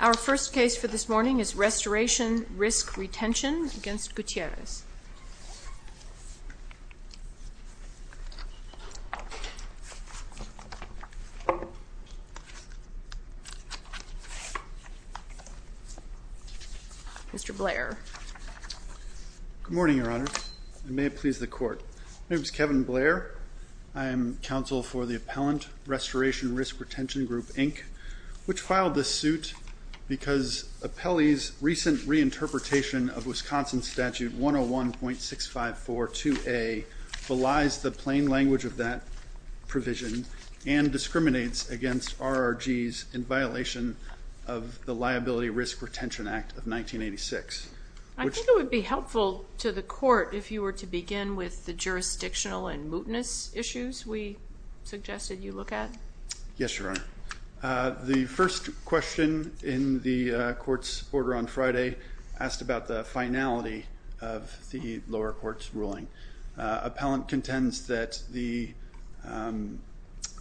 Our first case for this morning is Restoration Risk Retention v. Gutierrez Mr. Blair Good morning, Your Honor, and may it please the Court. My name is Kevin Blair. I am counsel for the Appellant Restoration Risk Retention Group, Inc., which filed this suit because Appellee's recent reinterpretation of Wisconsin Statute 101.6542A belies the plain language of that provision and discriminates against RRGs in violation of the Liability Risk Retention Act of 1986. I think it would be helpful to the Court if you were to begin with the jurisdictional and mootness issues we suggested you look at. Yes, Your Honor. The first question in the Court's order on Friday asked about the finality of the lower court's ruling. Appellant contends that the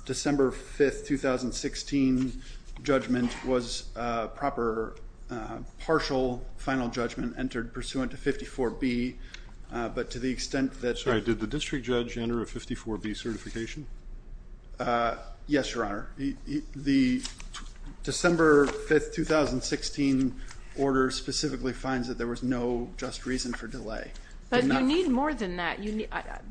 December 5, 2016, judgment was a proper partial final judgment entered pursuant to 54B, but to the extent that Did the district judge enter a 54B certification? Yes, Your Honor. The December 5, 2016, order specifically finds that there was no just reason for delay. But you need more than that.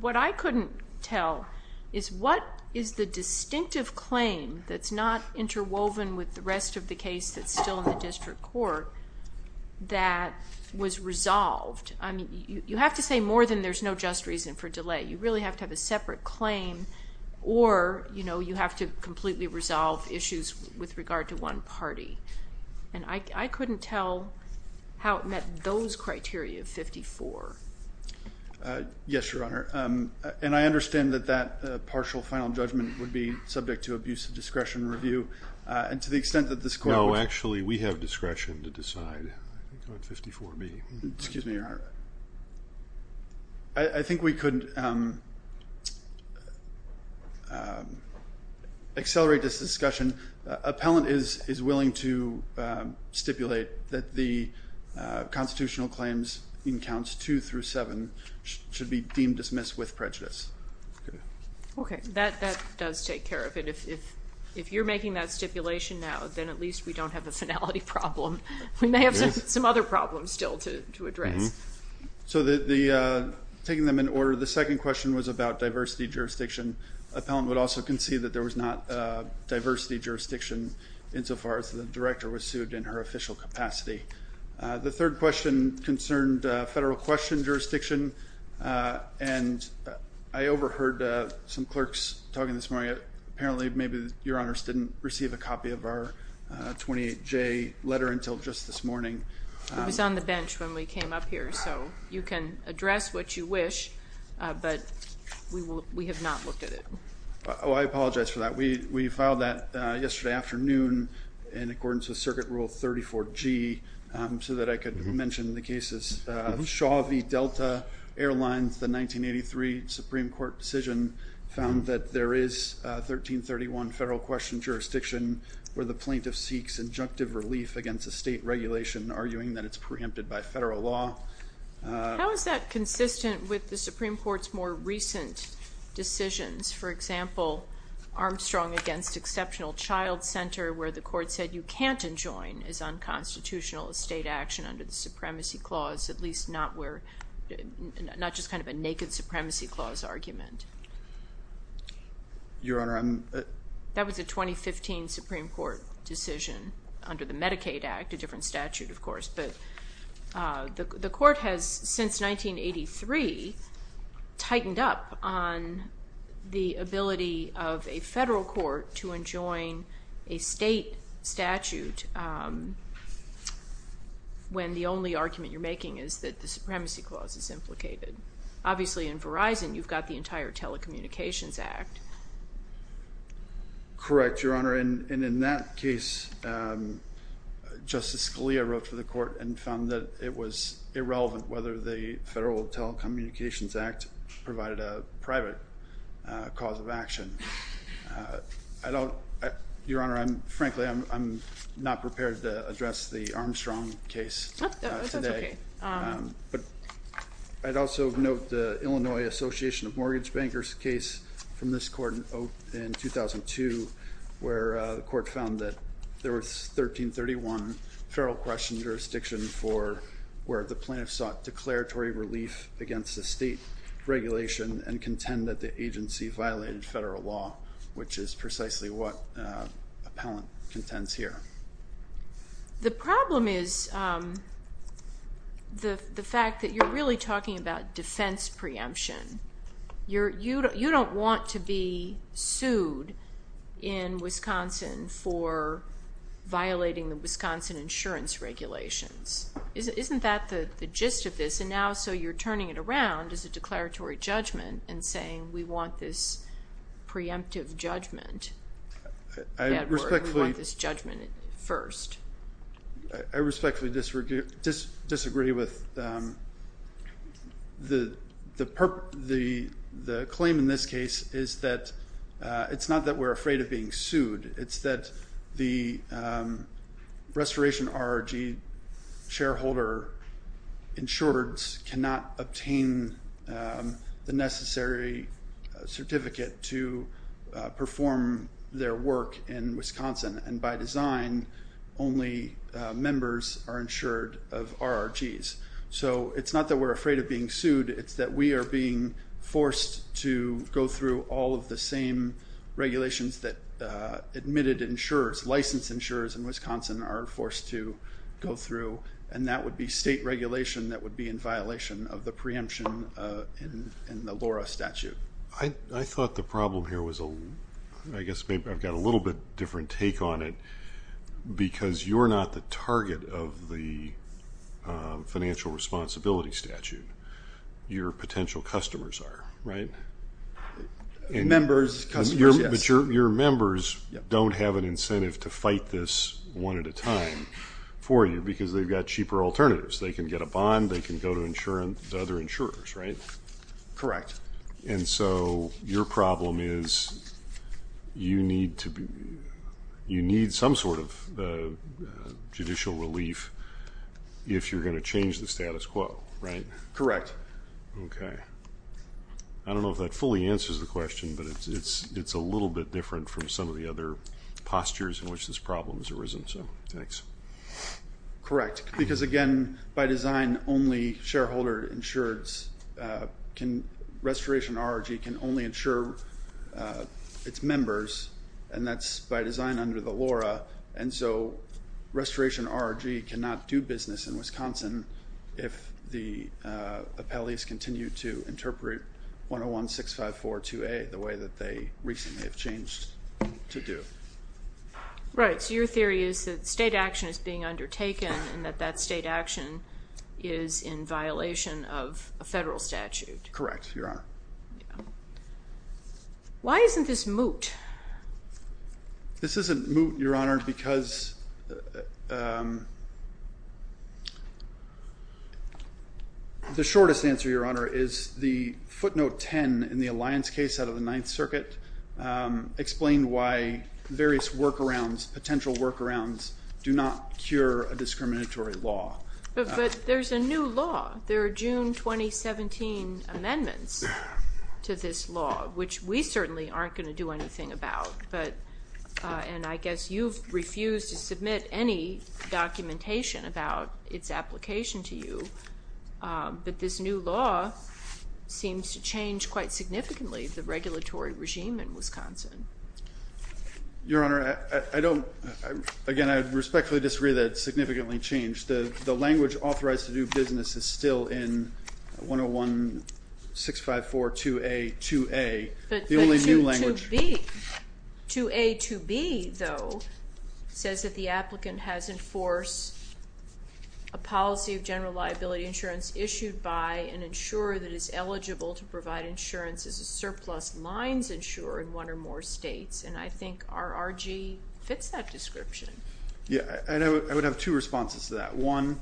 What I couldn't tell is what is the distinctive claim that's not interwoven with the rest of the case that's still in the district court that was resolved? You have to say more than there's no just reason for delay. You really have to have a separate claim or you have to completely resolve issues with regard to one party. And I couldn't tell how it met those criteria of 54. Yes, Your Honor. And I understand that that partial final judgment would be subject to abuse of discretion review. And to the extent that this Court would No, actually, we have discretion to decide on 54B. Excuse me, Your Honor. I think we could accelerate this discussion. Appellant is willing to stipulate that the constitutional claims in counts 2 through 7 should be deemed dismissed with prejudice. Okay, that does take care of it. If you're making that stipulation now, then at least we don't have a finality problem. We may have some other problems still to address. So taking them in order, the second question was about diversity jurisdiction. Appellant would also concede that there was not diversity jurisdiction insofar as the director was sued in her official capacity. The third question concerned federal question jurisdiction. And I overheard some clerks talking this morning. Apparently, maybe Your Honors didn't receive a copy of our 28J letter until just this morning. It was on the bench when we came up here. So you can address what you wish, but we have not looked at it. Oh, I apologize for that. We filed that yesterday afternoon in accordance with Circuit Rule 34G so that I could mention the cases. The Shaw v. Delta Airlines, the 1983 Supreme Court decision found that there is 1331 federal question jurisdiction where the plaintiff seeks injunctive relief against a state regulation, arguing that it's preempted by federal law. How is that consistent with the Supreme Court's more recent decisions? For example, Armstrong v. Exceptional Child Center, where the court said you can't enjoin as unconstitutional a state action under the Supremacy Clause, at least not just kind of a naked Supremacy Clause argument. Your Honor, I'm... That was a 2015 Supreme Court decision under the Medicaid Act, a different statute, of course. But the court has, since 1983, tightened up on the ability of a federal court to enjoin a state statute when the only argument you're making is that the Supremacy Clause is implicated. Obviously, in Verizon, you've got the entire Telecommunications Act. Correct, Your Honor, and in that case, Justice Scalia wrote for the court and found that it was irrelevant whether the Federal Telecommunications Act provided a private cause of action. Your Honor, frankly, I'm not prepared to address the Armstrong case today. That's okay. But I'd also note the Illinois Association of Mortgage Bankers case from this court in 2002, where the court found that there was 1331 federal question jurisdiction for where the plaintiffs sought declaratory relief against a state regulation and contend that the agency violated federal law, which is precisely what appellant contends here. The problem is the fact that you're really talking about defense preemption. You don't want to be sued in Wisconsin for violating the Wisconsin insurance regulations. Isn't that the gist of this? And now, so you're turning it around as a declaratory judgment and saying, we want this preemptive judgment. We want this judgment first. I respectfully disagree with the claim in this case is that it's not that we're afraid of being sued. It's that the restoration RRG shareholder insured cannot obtain the necessary certificate to perform their work in Wisconsin. And by design, only members are insured of RRGs. So it's not that we're afraid of being sued. It's that we are being forced to go through all of the same regulations that admitted insurers, licensed insurers in Wisconsin are forced to go through. And that would be state regulation that would be in violation of the preemption in the LORA statute. I thought the problem here was, I guess I've got a little bit different take on it, because you're not the target of the financial responsibility statute. Your potential customers are, right? Members, yes. But your members don't have an incentive to fight this one at a time for you because they've got cheaper alternatives. They can get a bond. They can go to other insurers, right? Correct. And so your problem is you need some sort of judicial relief if you're going to change the status quo, right? Correct. Okay. I don't know if that fully answers the question, but it's a little bit different from some of the other postures in which this problem has arisen. So thanks. Correct. Because, again, by design only shareholder insureds can ‑‑ Restoration RRG can only insure its members, and that's by design under the LORA. And so Restoration RRG cannot do business in Wisconsin if the appellees continue to interpret 101-654-2A the way that they recently have changed to do. Right. So your theory is that state action is being undertaken and that that state action is in violation of a federal statute. Correct, Your Honor. Why isn't this moot? This isn't moot, Your Honor, because the shortest answer, Your Honor, is the footnote 10 in the Alliance case out of the Ninth Circuit explained why various workarounds, potential workarounds, do not cure a discriminatory law. But there's a new law. There are June 2017 amendments to this law, which we certainly aren't going to do anything about. And I guess you've refused to submit any documentation about its application to you. But this new law seems to change quite significantly the regulatory regime in Wisconsin. Your Honor, I don't ‑‑ again, I respectfully disagree that it's significantly changed. The language authorized to do business is still in 101-654-2A, 2A, the only new language. 2B, 2A, 2B, though, says that the applicant has enforced a policy of general liability insurance issued by an insurer that is eligible to provide insurance as a surplus lines insurer in one or more states. And I think RRG fits that description. Yeah, and I would have two responses to that. One,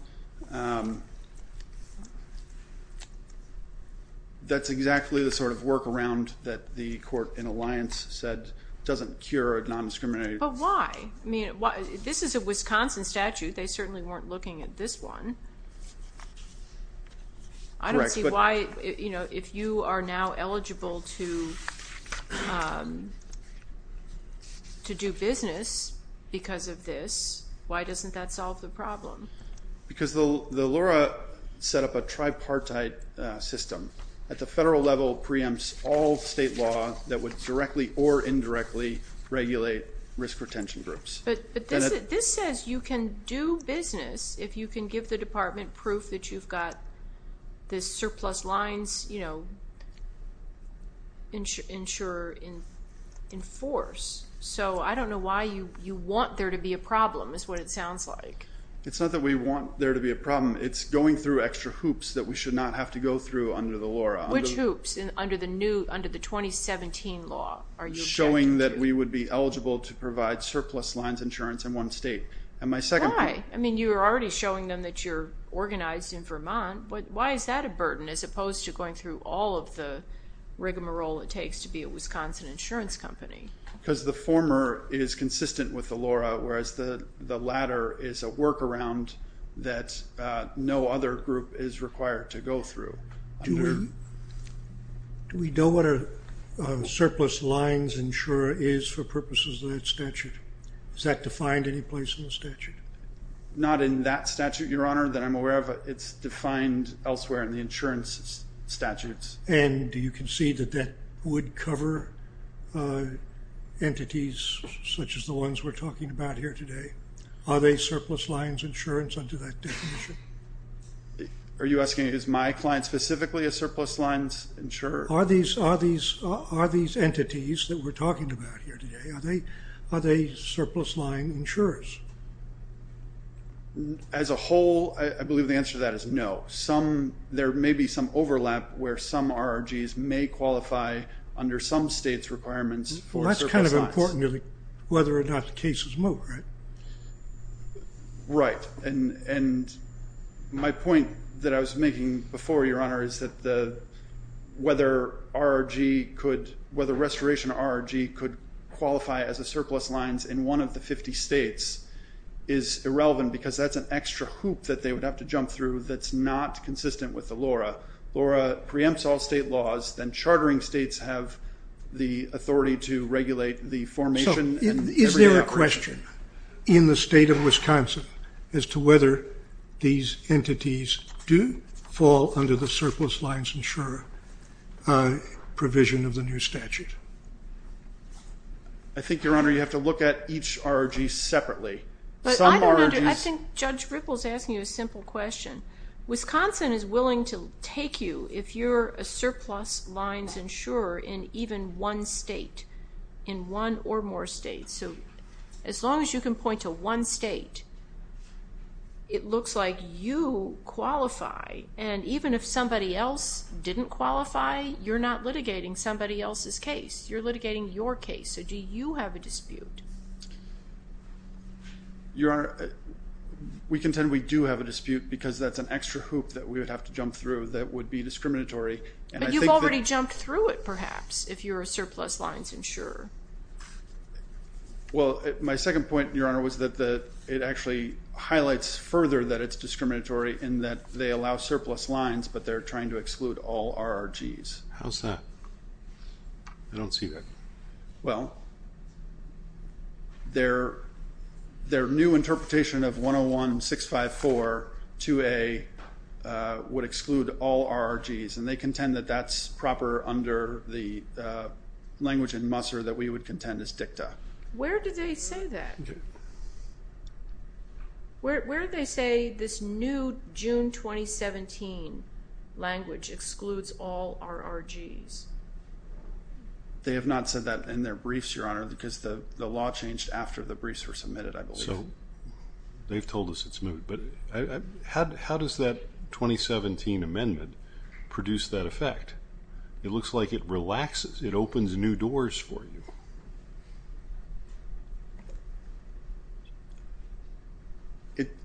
that's exactly the sort of workaround that the court in Alliance said doesn't cure a nondiscriminatory ‑‑ But why? I mean, this is a Wisconsin statute. They certainly weren't looking at this one. I don't see why, you know, if you are now eligible to do business because of this, why doesn't that solve the problem? Because the LORA set up a tripartite system at the federal level preempts all state law that would directly or indirectly regulate risk retention groups. But this says you can do business if you can give the department proof that you've got the surplus lines, you know, insurer in force. So I don't know why you want there to be a problem is what it sounds like. It's not that we want there to be a problem. It's going through extra hoops that we should not have to go through under the LORA. Which hoops under the 2017 law are you objecting to? Showing that we would be eligible to provide surplus lines insurance in one state. Why? I mean, you were already showing them that you're organized in Vermont. Why is that a burden as opposed to going through all of the rigmarole it takes to be a Wisconsin insurance company? Because the former is consistent with the LORA, whereas the latter is a workaround that no other group is required to go through. Do we know what a surplus lines insurer is for purposes of that statute? Is that defined any place in the statute? Not in that statute, Your Honor, that I'm aware of. It's defined elsewhere in the insurance statutes. And you can see that that would cover entities such as the ones we're talking about here today. Are they surplus lines insurance under that definition? Are you asking is my client specifically a surplus lines insurer? Are these entities that we're talking about here today, are they surplus line insurers? As a whole, I believe the answer to that is no. There may be some overlap where some RRGs may qualify under some states' requirements for surplus lines. Well, that's kind of important, really, whether or not the case is moved, right? Right. And my point that I was making before, Your Honor, is that whether RRG could, whether restoration RRG could qualify as a surplus lines in one of the 50 states is irrelevant because that's an extra hoop that they would have to jump through that's not consistent with the LORRA. LORRA preempts all state laws. Then chartering states have the authority to regulate the formation and every operation. So is there a question in the state of Wisconsin as to whether these entities do fall under the surplus lines insurer provision of the new statute? I think, Your Honor, you have to look at each RRG separately. I think Judge Ripple is asking you a simple question. Wisconsin is willing to take you if you're a surplus lines insurer in even one state, in one or more states. So as long as you can point to one state, it looks like you qualify. And even if somebody else didn't qualify, you're not litigating somebody else's case. You're litigating your case. So do you have a dispute? Your Honor, we contend we do have a dispute because that's an extra hoop that we would have to jump through that would be discriminatory. But you've already jumped through it, perhaps, if you're a surplus lines insurer. Well, my second point, Your Honor, was that it actually highlights further that it's discriminatory in that they allow surplus lines, but they're trying to exclude all RRGs. How's that? I don't see that. Well, their new interpretation of 101-654-2A would exclude all RRGs, and they contend that that's proper under the language in Musser that we would contend is dicta. Where did they say that? Where did they say this new June 2017 language excludes all RRGs? They have not said that in their briefs, Your Honor, because the law changed after the briefs were submitted, I believe. They've told us it's moved. But how does that 2017 amendment produce that effect? It looks like it relaxes. It opens new doors for you.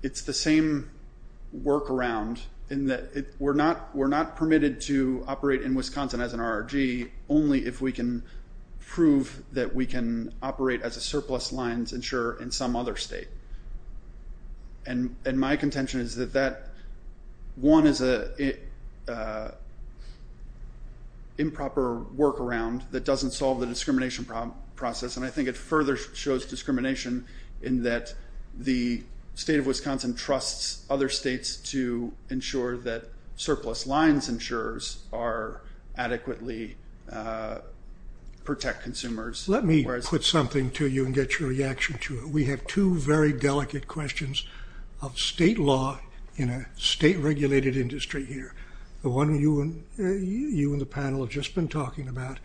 It's the same workaround in that we're not permitted to operate in Wisconsin as an RRG only if we can prove that we can operate as a state, and my contention is that that, one, is an improper workaround that doesn't solve the discrimination process, and I think it further shows discrimination in that the state of Wisconsin trusts other states to ensure that surplus lines insurers adequately protect consumers. Let me put something to you and get your reaction to it. We have two very delicate questions of state law in a state-regulated industry here, the one you and the panel have just been talking about,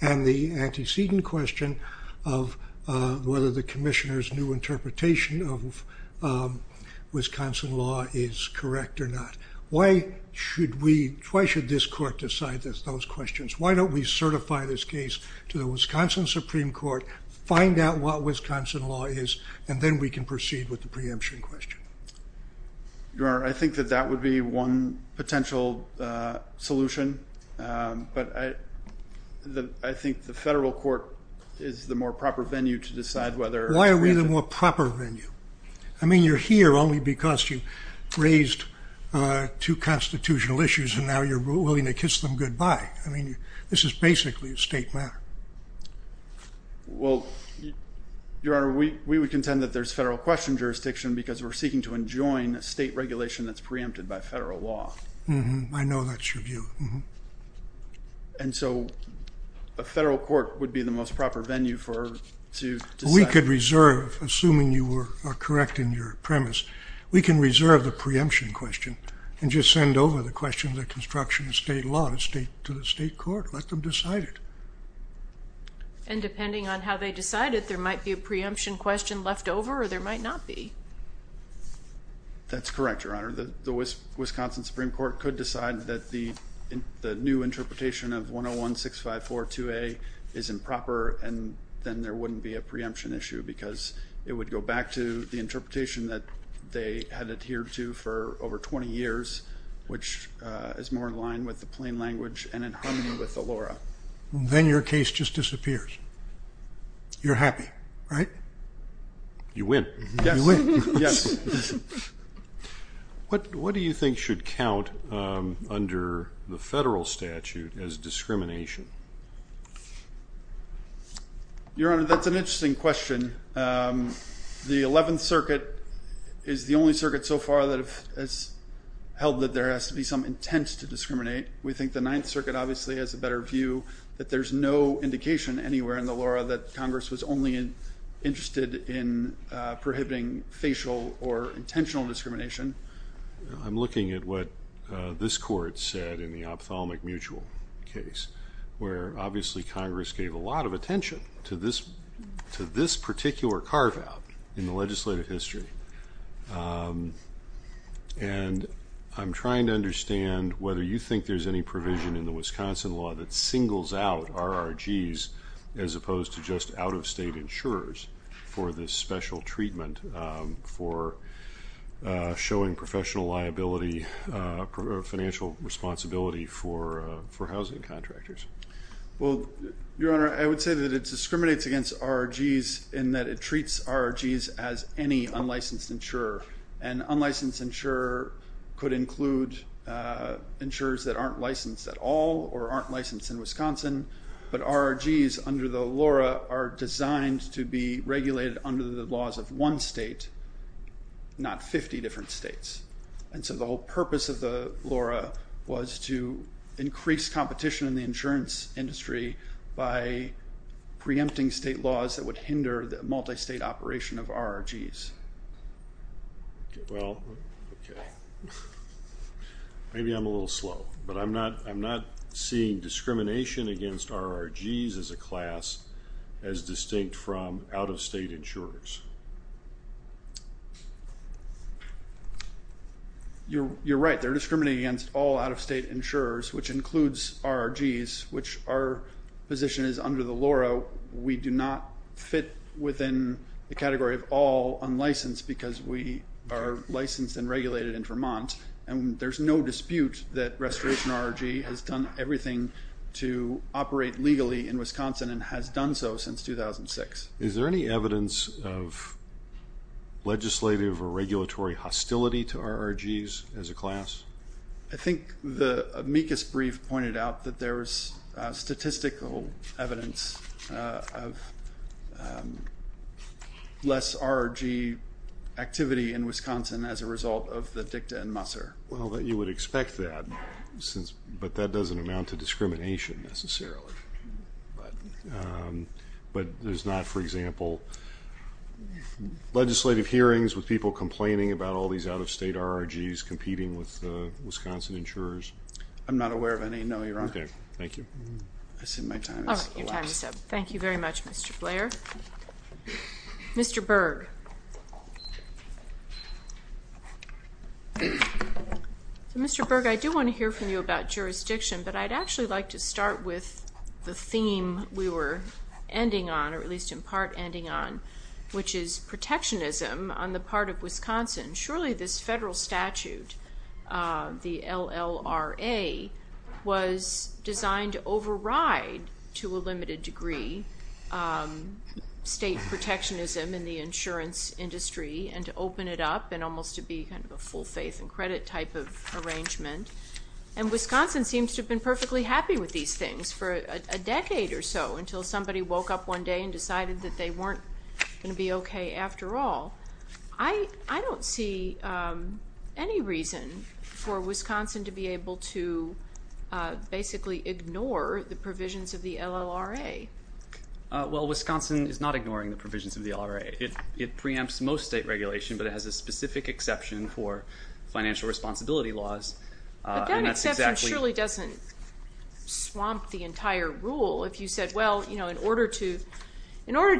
and the antecedent question of whether the commissioner's new interpretation of Wisconsin law is correct or not. Why should this court decide those questions? Why don't we certify this case to the Wisconsin Supreme Court, find out what Wisconsin law is, and then we can proceed with the preemption question? Your Honor, I think that that would be one potential solution, but I think the federal court is the more proper venue to decide whether it's preemptive. Why are we the more proper venue? I mean, you're here only because you raised two constitutional issues, and now you're willing to kiss them goodbye. I mean, this is basically a state matter. Well, Your Honor, we would contend that there's federal question jurisdiction because we're seeking to enjoin a state regulation that's preempted by federal law. I know that's your view. And so a federal court would be the most proper venue to decide. I could reserve, assuming you are correct in your premise, we can reserve the preemption question and just send over the question of the construction of state law to the state court, let them decide it. And depending on how they decide it, there might be a preemption question left over or there might not be. That's correct, Your Honor. The Wisconsin Supreme Court could decide that the new interpretation of 101-654-2A is improper, and then there wouldn't be a preemption issue because it would go back to the interpretation that they had adhered to for over 20 years, which is more in line with the plain language and in harmony with the lore. Then your case just disappears. You're happy, right? You win. Yes. What do you think should count under the federal statute as discrimination? Your Honor, that's an interesting question. The 11th Circuit is the only circuit so far that has held that there has to be some intent to discriminate. We think the 9th Circuit obviously has a better view that there's no indication anywhere in the lore that Congress was only interested in prohibiting facial or intentional discrimination. I'm looking at what this Court said in the ophthalmic mutual case, where obviously Congress gave a lot of attention to this particular carve-out in the legislative history. And I'm trying to understand whether you think there's any provision in the Wisconsin law that singles out RRGs as opposed to just out-of-state insurers for this special treatment for showing professional liability or financial responsibility for housing contractors. Your Honor, I would say that it discriminates against RRGs in that it treats RRGs as any unlicensed insurer. An unlicensed insurer could include insurers that aren't licensed at all or aren't licensed in Wisconsin, but RRGs under the LORA are designed to be regulated under the laws of one state, not 50 different states. And so the whole purpose of the LORA was to increase competition in the insurance industry by preempting state laws that would hinder the multi-state operation of RRGs. Well, okay. Maybe I'm a little slow, but I'm not seeing discrimination against RRGs as a class as distinct from out-of-state insurers. You're right. They're discriminating against all out-of-state insurers, which includes RRGs, which our position is under the LORA, we do not fit within the category of all unlicensed because we are licensed and regulated in Vermont, and there's no dispute that Restoration RRG has done everything to operate legally in Wisconsin and has done so since 2006. Is there any evidence of legislative or regulatory hostility to RRGs as a class? I think the amicus brief pointed out that there is statistical evidence of less RRG activity in Wisconsin as a result of the DICTA and MUSR. Well, you would expect that, but that doesn't amount to discrimination necessarily. But there's not, for example, legislative hearings with people complaining about all these out-of-state RRGs competing with Wisconsin insurers. I'm not aware of any. No, you're on. Okay. Thank you. Your time is up. Thank you very much, Mr. Blair. Mr. Berg. Mr. Berg, I do want to hear from you about jurisdiction, but I'd actually like to start with the theme we were ending on, or at least in part ending on, which is protectionism on the part of Wisconsin. Surely this federal statute, the LLRA, was designed to override to a limited degree state protectionism in the insurance industry and to open it up and almost to be kind of a full faith and credit type of arrangement. And Wisconsin seems to have been perfectly happy with these things for a decade or so, until somebody woke up one day and decided that they weren't going to be okay after all. I don't see any reason for Wisconsin to be able to basically ignore the provisions of the LLRA. Well, Wisconsin is not ignoring the provisions of the LLRA. It preempts most state regulation, but it has a specific exception for financial responsibility laws. But that exception surely doesn't swamp the entire rule. If you said, well, in order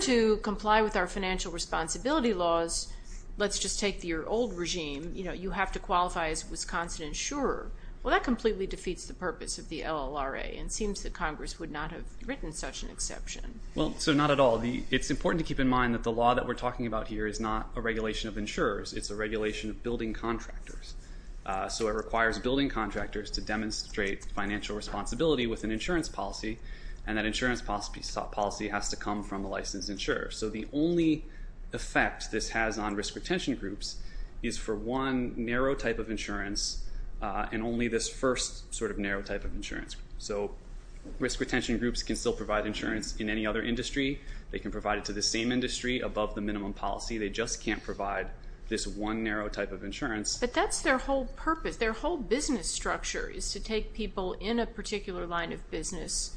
to comply with our financial responsibility laws, let's just take your old regime, you have to qualify as a Wisconsin insurer, well, that completely defeats the purpose of the LLRA and seems that Congress would not have written such an exception. Well, so not at all. It's important to keep in mind that the law that we're talking about here is not a regulation of insurers. It's a regulation of building contractors. So it requires building contractors to demonstrate financial responsibility with an insurance policy, and that insurance policy has to come from a licensed insurer. So the only effect this has on risk retention groups is for one narrow type of insurance and only this first sort of narrow type of insurance. So risk retention groups can still provide insurance in any other industry. They can provide it to the same industry above the minimum policy. They just can't provide this one narrow type of insurance. But that's their whole purpose. Their whole business structure is to take people in a particular line of business,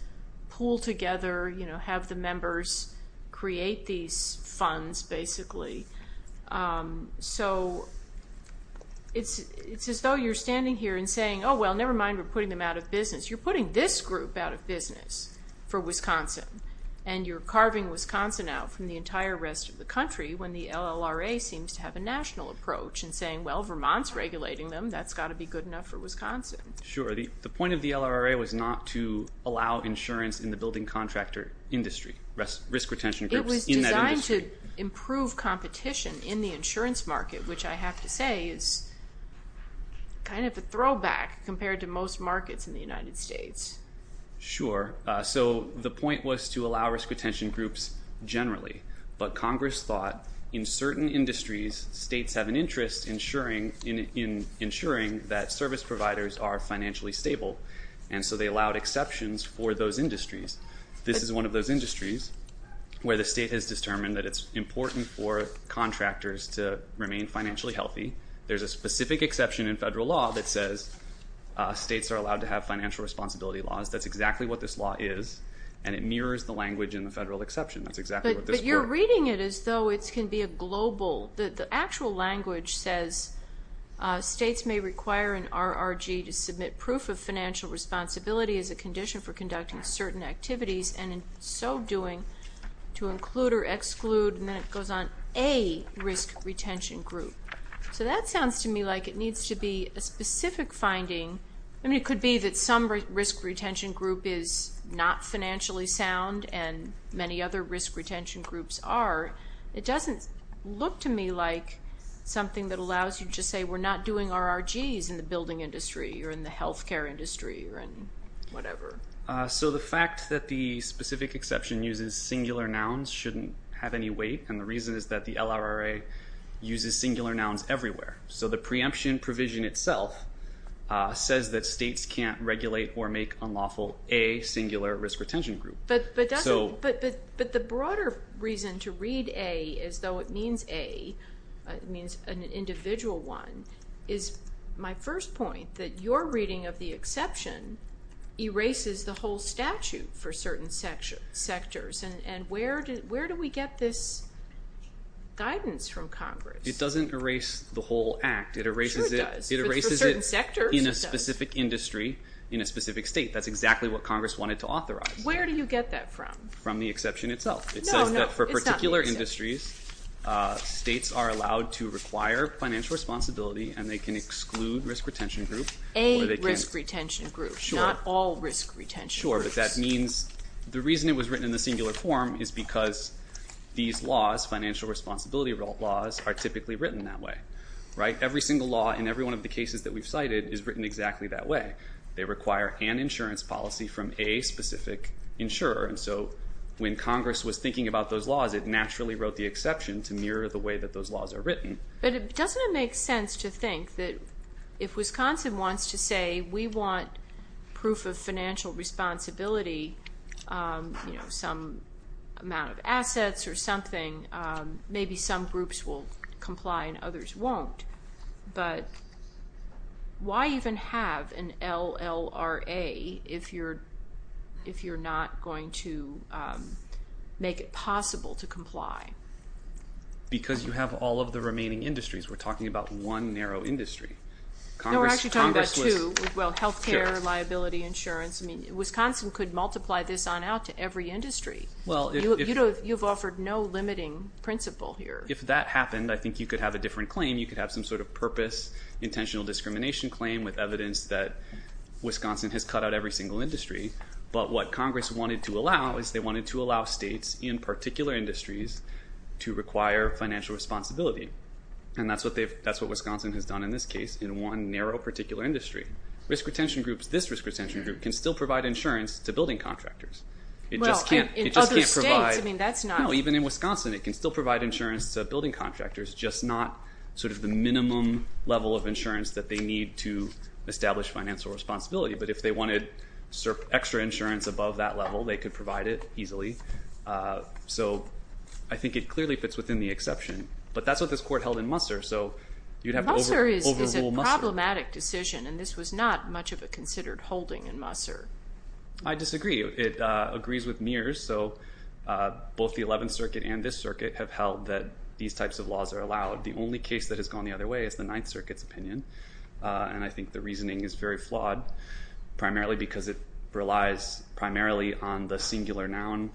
pool together, have the members create these funds, basically. So it's as though you're standing here and saying, oh, well, never mind. We're putting them out of business. You're putting this group out of business for Wisconsin, when the LLRA seems to have a national approach and saying, well, Vermont's regulating them. That's got to be good enough for Wisconsin. Sure. The point of the LLRA was not to allow insurance in the building contractor industry, risk retention groups in that industry. It was designed to improve competition in the insurance market, which I have to say is kind of a throwback compared to most markets in the United States. Sure. So the point was to allow risk retention groups generally. But Congress thought in certain industries, states have an interest in ensuring that service providers are financially stable, and so they allowed exceptions for those industries. This is one of those industries where the state has determined that it's important for contractors to remain financially healthy. There's a specific exception in federal law that says states are allowed to have financial responsibility laws. That's exactly what this law is, and it mirrors the language in the federal exception. But you're reading it as though it can be a global. The actual language says states may require an RRG to submit proof of financial responsibility as a condition for conducting certain activities, and in so doing, to include or exclude, and then it goes on, a risk retention group. So that sounds to me like it needs to be a specific finding. I mean, it could be that some risk retention group is not financially sound, and many other risk retention groups are. It doesn't look to me like something that allows you to say we're not doing RRGs in the building industry or in the health care industry or in whatever. So the fact that the specific exception uses singular nouns shouldn't have any weight, and the reason is that the LRRA uses singular nouns everywhere. So the preemption provision itself says that states can't regulate or make unlawful a singular risk retention group. But the broader reason to read a as though it means a, it means an individual one, is my first point that your reading of the exception erases the whole statute for certain sectors, and where do we get this guidance from Congress? It doesn't erase the whole act. It erases it in a specific industry in a specific state. That's exactly what Congress wanted to authorize. Where do you get that from? From the exception itself. It says that for particular industries, states are allowed to require financial responsibility, and they can exclude risk retention groups. A risk retention group, not all risk retention groups. Sure, but that means the reason it was written in the singular form is because these laws, financial responsibility laws, are typically written that way. Every single law in every one of the cases that we've cited is written exactly that way. They require an insurance policy from a specific insurer, and so when Congress was thinking about those laws, it naturally wrote the exception to mirror the way that those laws are written. But doesn't it make sense to think that if Wisconsin wants to say we want proof of financial responsibility, some amount of assets or something, maybe some groups will comply and others won't. But why even have an LLRA if you're not going to make it possible to comply? Because you have all of the remaining industries. We're talking about one narrow industry. No, we're actually talking about two. Well, health care, liability insurance. I mean, Wisconsin could multiply this on out to every industry. You've offered no limiting principle here. If that happened, I think you could have a different claim. You could have some sort of purpose intentional discrimination claim with evidence that Wisconsin has cut out every single industry. But what Congress wanted to allow is they wanted to allow states in particular industries to require financial responsibility, and that's what Wisconsin has done in this case in one narrow particular industry. Risk retention groups, this risk retention group, can still provide insurance to building contractors. It just can't provide. Well, in other states, I mean, that's not. No, even in Wisconsin it can still provide insurance to building contractors, just not sort of the minimum level of insurance that they need to establish financial responsibility. But if they wanted extra insurance above that level, they could provide it easily. So I think it clearly fits within the exception. But that's what this court held in Musser, so you'd have to overrule Musser. Well, Musser is a problematic decision, and this was not much of a considered holding in Musser. I disagree. It agrees with Mears. So both the Eleventh Circuit and this circuit have held that these types of laws are allowed. The only case that has gone the other way is the Ninth Circuit's opinion, and I think the reasoning is very flawed primarily because it relies primarily on the singular noun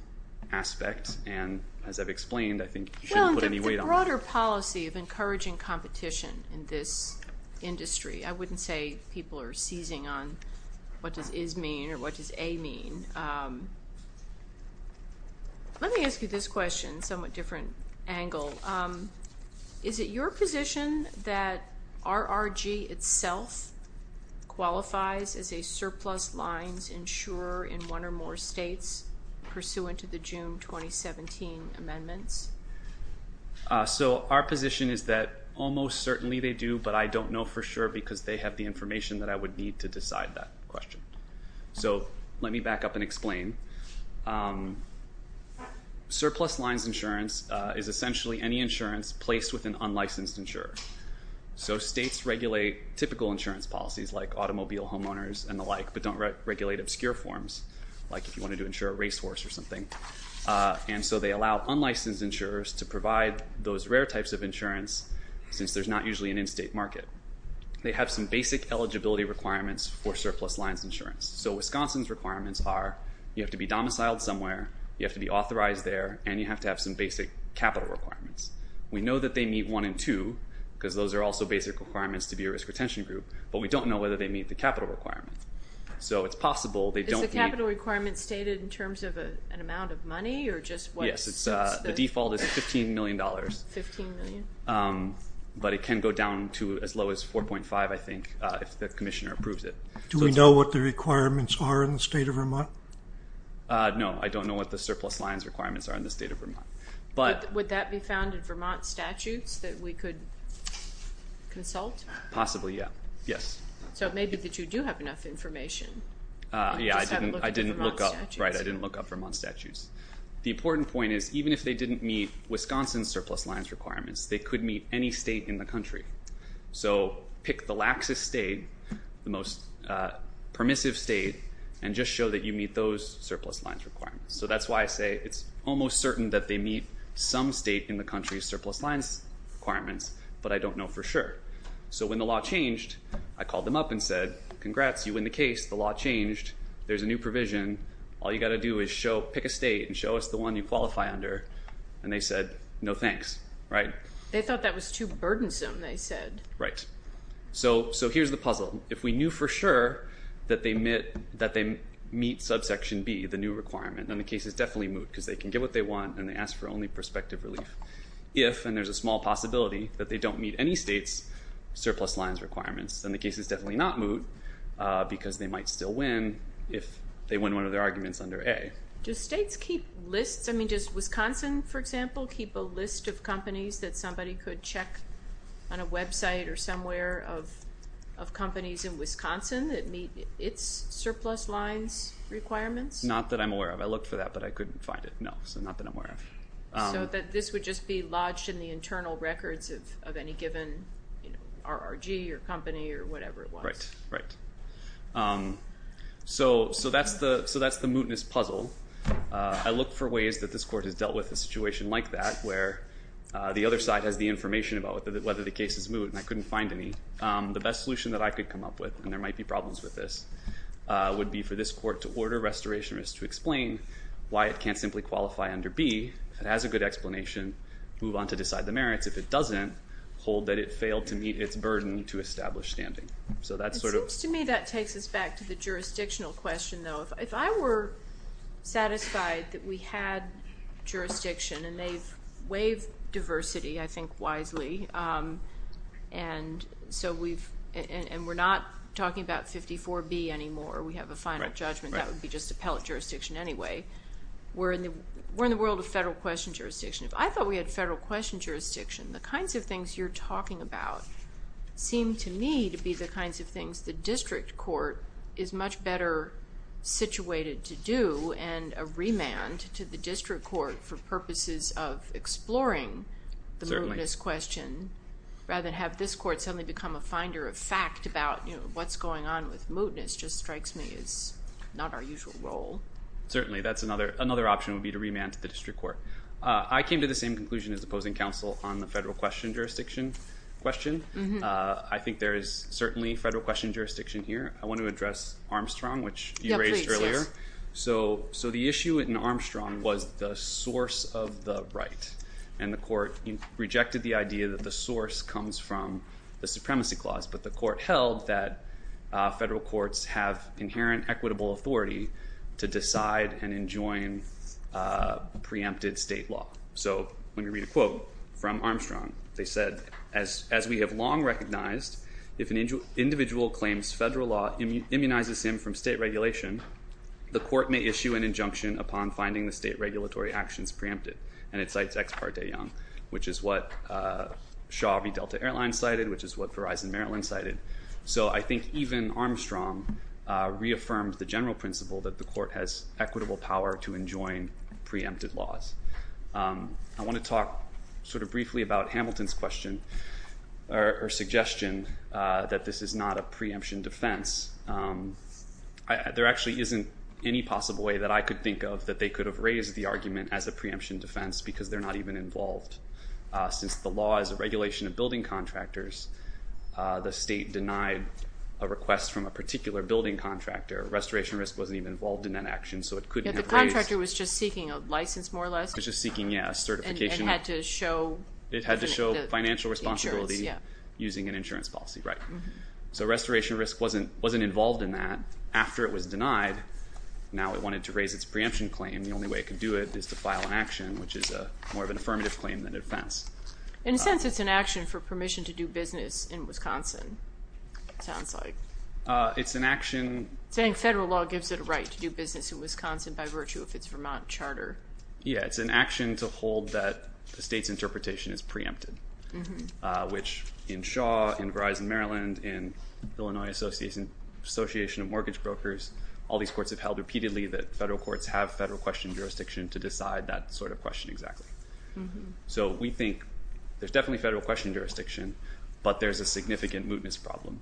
aspect. And as I've explained, I think you shouldn't put any weight on that. There's a broader policy of encouraging competition in this industry. I wouldn't say people are seizing on what does is mean or what does a mean. Let me ask you this question, somewhat different angle. Is it your position that RRG itself qualifies as a surplus lines insurer in one or more states, pursuant to the June 2017 amendments? So our position is that almost certainly they do, but I don't know for sure because they have the information that I would need to decide that question. So let me back up and explain. Surplus lines insurance is essentially any insurance placed with an unlicensed insurer. So states regulate typical insurance policies like automobile homeowners and the like, but don't regulate obscure forms like if you wanted to insure a racehorse or something. And so they allow unlicensed insurers to provide those rare types of insurance since there's not usually an in-state market. They have some basic eligibility requirements for surplus lines insurance. So Wisconsin's requirements are you have to be domiciled somewhere, you have to be authorized there, and you have to have some basic capital requirements. We know that they meet one and two because those are also basic requirements to be a risk retention group, but we don't know whether they meet the capital requirement. Is the capital requirement stated in terms of an amount of money? Yes, the default is $15 million, but it can go down to as low as 4.5, I think, if the commissioner approves it. Do we know what the requirements are in the state of Vermont? No, I don't know what the surplus lines requirements are in the state of Vermont. Would that be found in Vermont statutes that we could consult? Possibly, yes. So it may be that you do have enough information. Yeah, I didn't look up Vermont statutes. The important point is even if they didn't meet Wisconsin's surplus lines requirements, they could meet any state in the country. So pick the laxest state, the most permissive state, and just show that you meet those surplus lines requirements. So that's why I say it's almost certain that they meet some state in the country's surplus lines requirements, but I don't know for sure. So when the law changed, I called them up and said, congrats, you win the case, the law changed, there's a new provision, all you've got to do is pick a state and show us the one you qualify under, and they said, no thanks, right? They thought that was too burdensome, they said. Right. So here's the puzzle. If we knew for sure that they meet subsection B, the new requirement, then the case is definitely moot because they can get what they want and they ask for only prospective relief. If, and there's a small possibility, that they don't meet any state's surplus lines requirements, then the case is definitely not moot because they might still win if they win one of their arguments under A. Does states keep lists, I mean, does Wisconsin, for example, keep a list of companies that somebody could check on a website or somewhere of companies in Wisconsin that meet its surplus lines requirements? Not that I'm aware of. I looked for that, but I couldn't find it, no. So not that I'm aware of. So that this would just be lodged in the internal records of any given RRG or company or whatever it was. Right, right. So that's the mootness puzzle. I look for ways that this court has dealt with a situation like that where the other side has the information about whether the case is moot and I couldn't find any. The best solution that I could come up with, and there might be problems with this, would be for this court to order restorationists to explain why it can't simply qualify under B. If it has a good explanation, move on to decide the merits. If it doesn't, hold that it failed to meet its burden to establish standing. It seems to me that takes us back to the jurisdictional question, though. If I were satisfied that we had jurisdiction, and they've waived diversity, I think, wisely, and we're not talking about 54B anymore, we have a final judgment, that would be just appellate jurisdiction anyway. We're in the world of federal question jurisdiction. If I thought we had federal question jurisdiction, the kinds of things you're talking about seem to me to be the kinds of things the district court is much better situated to do, and a remand to the district court for purposes of exploring the mootness question rather than have this court suddenly become a finder of fact about what's going on with mootness just strikes me as not our usual role. Certainly. That's another option would be to remand to the district court. I came to the same conclusion as opposing counsel on the federal question jurisdiction question. I think there is certainly federal question jurisdiction here. I want to address Armstrong, which you raised earlier. So the issue in Armstrong was the source of the right, and the court rejected the idea that the source comes from the supremacy clause, but the court held that federal courts have inherent equitable authority to decide and enjoin preempted state law. So let me read a quote from Armstrong. They said, as we have long recognized, if an individual claims federal law immunizes him from state regulation, the court may issue an injunction upon finding the state regulatory actions preempted. And it cites Ex Parte Young, which is what Shaw v. Delta Airlines cited, which is what Verizon Maryland cited. So I think even Armstrong reaffirmed the general principle that the court has equitable power to enjoin preempted laws. I want to talk sort of briefly about Hamilton's question or suggestion that this is not a preemption defense. There actually isn't any possible way that I could think of that they could have raised the argument as a preemption defense because they're not even involved. Since the law is a regulation of building contractors, the state denied a request from a particular building contractor. Restoration risk wasn't even involved in that action, so it couldn't have raised it. The contractor was just seeking a license more or less? Just seeking a certification. And it had to show the insurance. It had to show financial responsibility using an insurance policy, right. So restoration risk wasn't involved in that. After it was denied, now it wanted to raise its preemption claim. The only way it could do it is to file an action, which is more of an affirmative claim than a defense. In a sense, it's an action for permission to do business in Wisconsin, it sounds like. It's an action. Saying federal law gives it a right to do business in Wisconsin by virtue of its Vermont charter. Yeah, it's an action to hold that the state's interpretation is preempted, which in Shaw, in Verizon Maryland, in Illinois Association of Mortgage Brokers, all these courts have held repeatedly that federal courts have federal question jurisdiction to decide that sort of question exactly. So we think there's definitely federal question jurisdiction, but there's a significant mootness problem.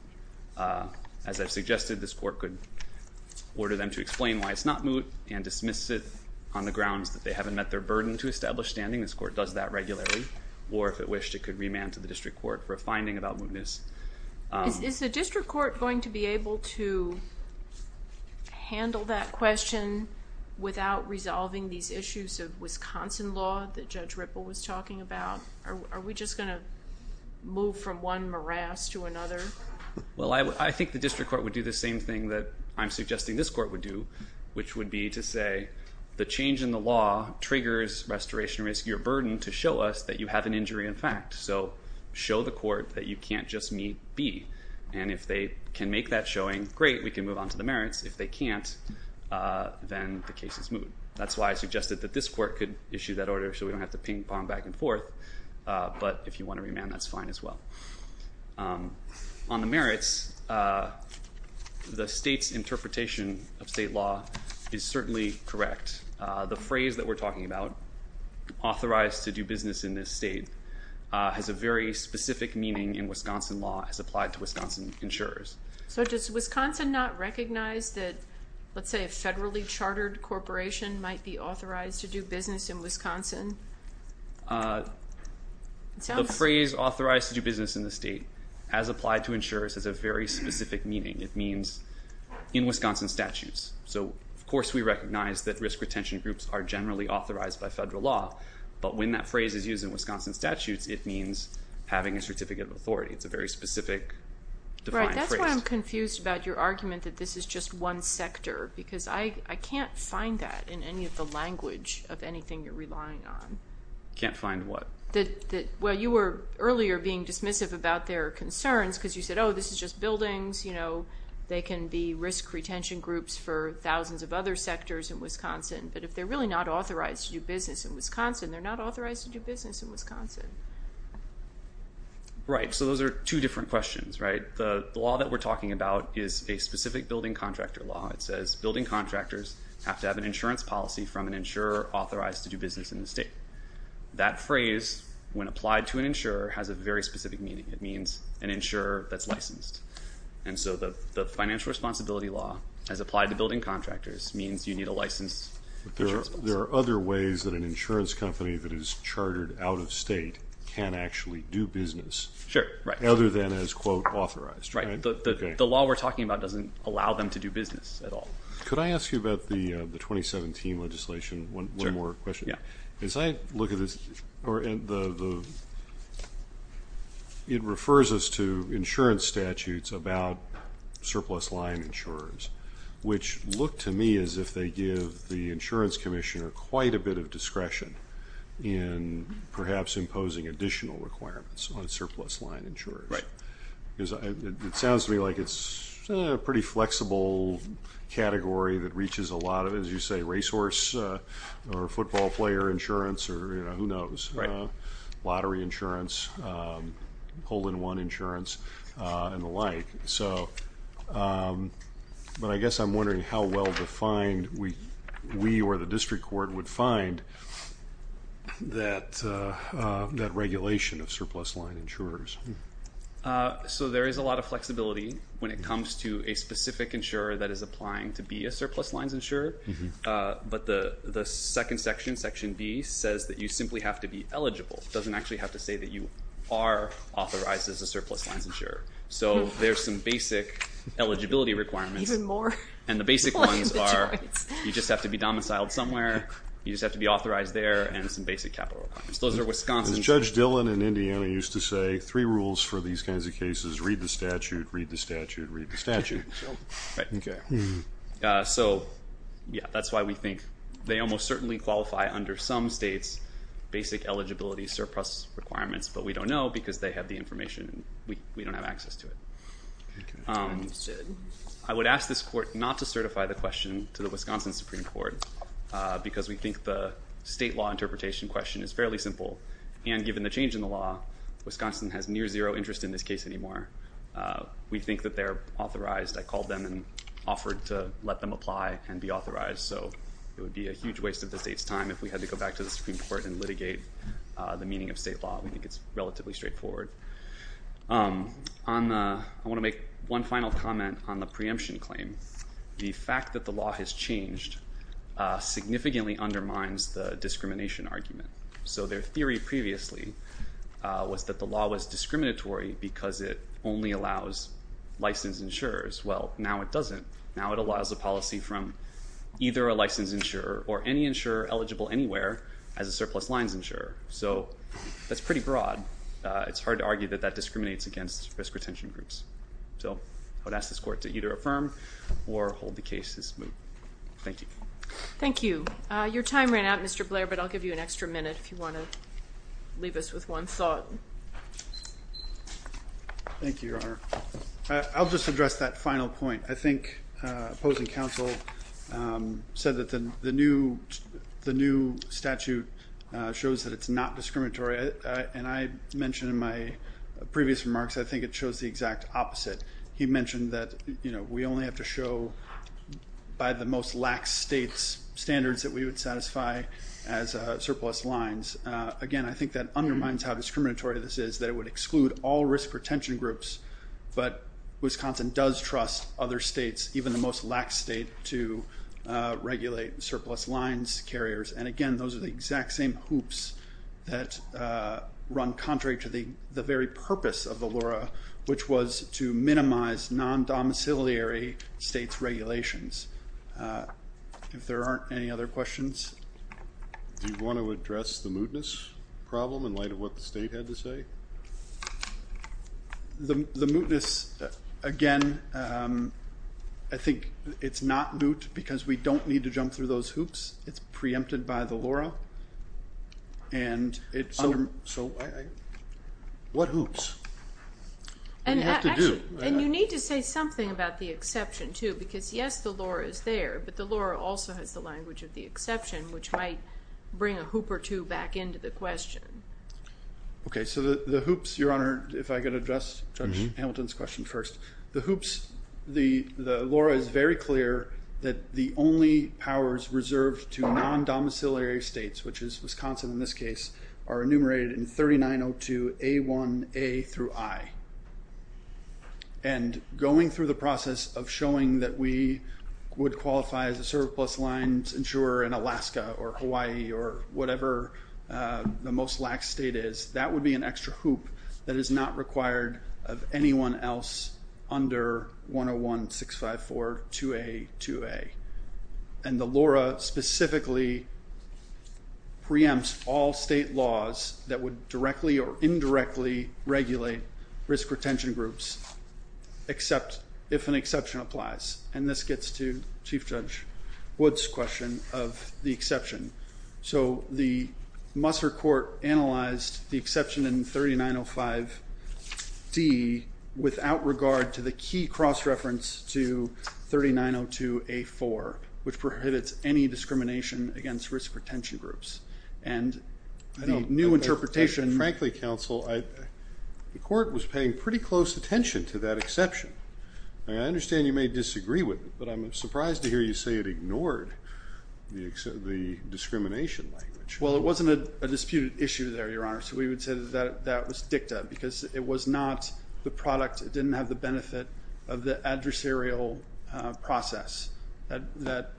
As I've suggested, this court could order them to explain why it's not moot and dismiss it on the grounds that they haven't met their burden to establish standing. This court does that regularly. Or if it wished, it could remand to the district court for a finding about mootness. Is the district court going to be able to handle that question without resolving these issues of Wisconsin law that Judge Ripple was talking about? Are we just going to move from one morass to another? Well, I think the district court would do the same thing that I'm suggesting this court would do, which would be to say the change in the law triggers restoration risk, your burden to show us that you have an injury in fact. So show the court that you can't just meet B. And if they can make that showing, great, we can move on to the merits. If they can't, then the case is moot. That's why I suggested that this court could issue that order so we don't have to ping-pong back and forth. But if you want to remand, that's fine as well. On the merits, the state's interpretation of state law is certainly correct. The phrase that we're talking about, authorized to do business in this state, has a very specific meaning in Wisconsin law as applied to Wisconsin insurers. So does Wisconsin not recognize that, let's say, a federally chartered corporation might be authorized to do business in Wisconsin? The phrase authorized to do business in the state, as applied to insurers, has a very specific meaning. It means in Wisconsin statutes. So of course we recognize that risk retention groups are generally authorized by federal law, but when that phrase is used in Wisconsin statutes, it means having a certificate of authority. It's a very specific defined phrase. Right. That's why I'm confused about your argument that this is just one sector, because I can't find that in any of the language of anything you're relying on. Can't find what? Well, you were earlier being dismissive about their concerns because you said, oh, this is just buildings. They can be risk retention groups for thousands of other sectors in Wisconsin. But if they're really not authorized to do business in Wisconsin, they're not authorized to do business in Wisconsin. Right. So those are two different questions, right? The law that we're talking about is a specific building contractor law. It says building contractors have to have an insurance policy from an insurer authorized to do business in the state. That phrase, when applied to an insurer, has a very specific meaning. It means an insurer that's licensed. And so the financial responsibility law, as applied to building contractors, means you need a licensed insurance policy. There are other ways that an insurance company that is chartered out of state can actually do business. Sure, right. Other than as, quote, authorized. Right. The law we're talking about doesn't allow them to do business at all. Could I ask you about the 2017 legislation? One more question. Yeah. As I look at this, it refers us to insurance statutes about surplus line insurers, which look to me as if they give the insurance commissioner quite a bit of discretion in perhaps imposing additional requirements on surplus line insurers. Right. Because it sounds to me like it's a pretty flexible category that reaches a lot of, as you say, racehorse or football player insurance or, you know, who knows. Right. Lottery insurance, hole-in-one insurance, and the like. But I guess I'm wondering how well defined we or the district court would find that regulation of surplus line insurers. So there is a lot of flexibility when it comes to a specific insurer that is applying to be a surplus lines insurer. But the second section, Section B, says that you simply have to be eligible. It doesn't actually have to say that you are authorized as a surplus lines insurer. So there's some basic eligibility requirements. Even more. And the basic ones are you just have to be domiciled somewhere, you just have to be authorized there, and some basic capital requirements. Those are Wisconsin's. As Judge Dillon in Indiana used to say, three rules for these kinds of cases, read the statute, read the statute, read the statute. Right. Okay. So, yeah, that's why we think they almost certainly qualify under some states basic eligibility surplus requirements, but we don't know because they have the information and we don't have access to it. I would ask this court not to certify the question to the Wisconsin Supreme Court because we think the state law interpretation question is fairly simple, and given the change in the law, Wisconsin has near zero interest in this case anymore. We think that they're authorized. I called them and offered to let them apply and be authorized, so it would be a huge waste of the state's time if we had to go back to the Supreme Court and litigate the meaning of state law. We think it's relatively straightforward. I want to make one final comment on the preemption claim. The fact that the law has changed significantly undermines the discrimination argument. So their theory previously was that the law was discriminatory because it only allows licensed insurers. Well, now it doesn't. Now it allows a policy from either a licensed insurer or any insurer eligible anywhere as a surplus lines insurer. So that's pretty broad. It's hard to argue that that discriminates against risk retention groups. So I would ask this court to either affirm or hold the case as moved. Thank you. Thank you. Your time ran out, Mr. Blair, but I'll give you an extra minute if you want to leave us with one thought. Thank you, Your Honor. I'll just address that final point. I think opposing counsel said that the new statute shows that it's not discriminatory, and I mentioned in my previous remarks I think it shows the exact opposite. He mentioned that we only have to show by the most lax state's standards that we would satisfy as surplus lines. Again, I think that undermines how discriminatory this is, that it would exclude all risk retention groups, but Wisconsin does trust other states, even the most lax state, to regulate surplus lines carriers. And, again, those are the exact same hoops that run contrary to the very purpose of Valora, which was to minimize non-domiciliary states' regulations. If there aren't any other questions. Do you want to address the mootness problem in light of what the state had to say? The mootness, again, I think it's not moot because we don't need to jump through those hoops. It's preempted by the Valora. So what hoops? And you need to say something about the exception, too, because, yes, the Valora is there, but the Valora also has the language of the exception, which might bring a hoop or two back into the question. Okay, so the hoops, Your Honor, if I could address Judge Hamilton's question first. The hoops, the Valora is very clear that the only powers reserved to non-domiciliary states, which is Wisconsin in this case, are enumerated in 3902A1A through I. And going through the process of showing that we would qualify as a surplus lines insurer in Alaska or Hawaii or whatever the most lax state is, that would be an extra hoop that is not required of anyone else under 101-654-2A2A. And the Valora specifically preempts all state laws that would directly or indirectly regulate risk retention groups, except if an exception applies. And this gets to Chief Judge Wood's question of the exception. So the Musser court analyzed the exception in 3905D without regard to the key cross-reference to 3902A4, which prohibits any discrimination against risk retention groups. And the new interpretation – Frankly, counsel, the court was paying pretty close attention to that exception. I understand you may disagree with it, but I'm surprised to hear you say it ignored the discrimination language. Well, it wasn't a disputed issue there, Your Honor. So we would say that that was dicta because it was not the product. It didn't have the benefit of the adversarial process. That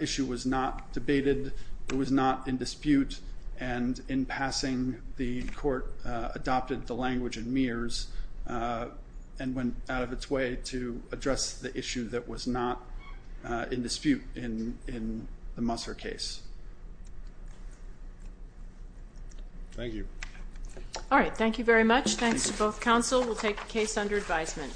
issue was not debated. It was not in dispute. And in passing, the court adopted the language in Mears and went out of its way to address the issue that was not in dispute in the Musser case. Thank you. All right, thank you very much. Thanks to both counsel. We'll take the case under advisement.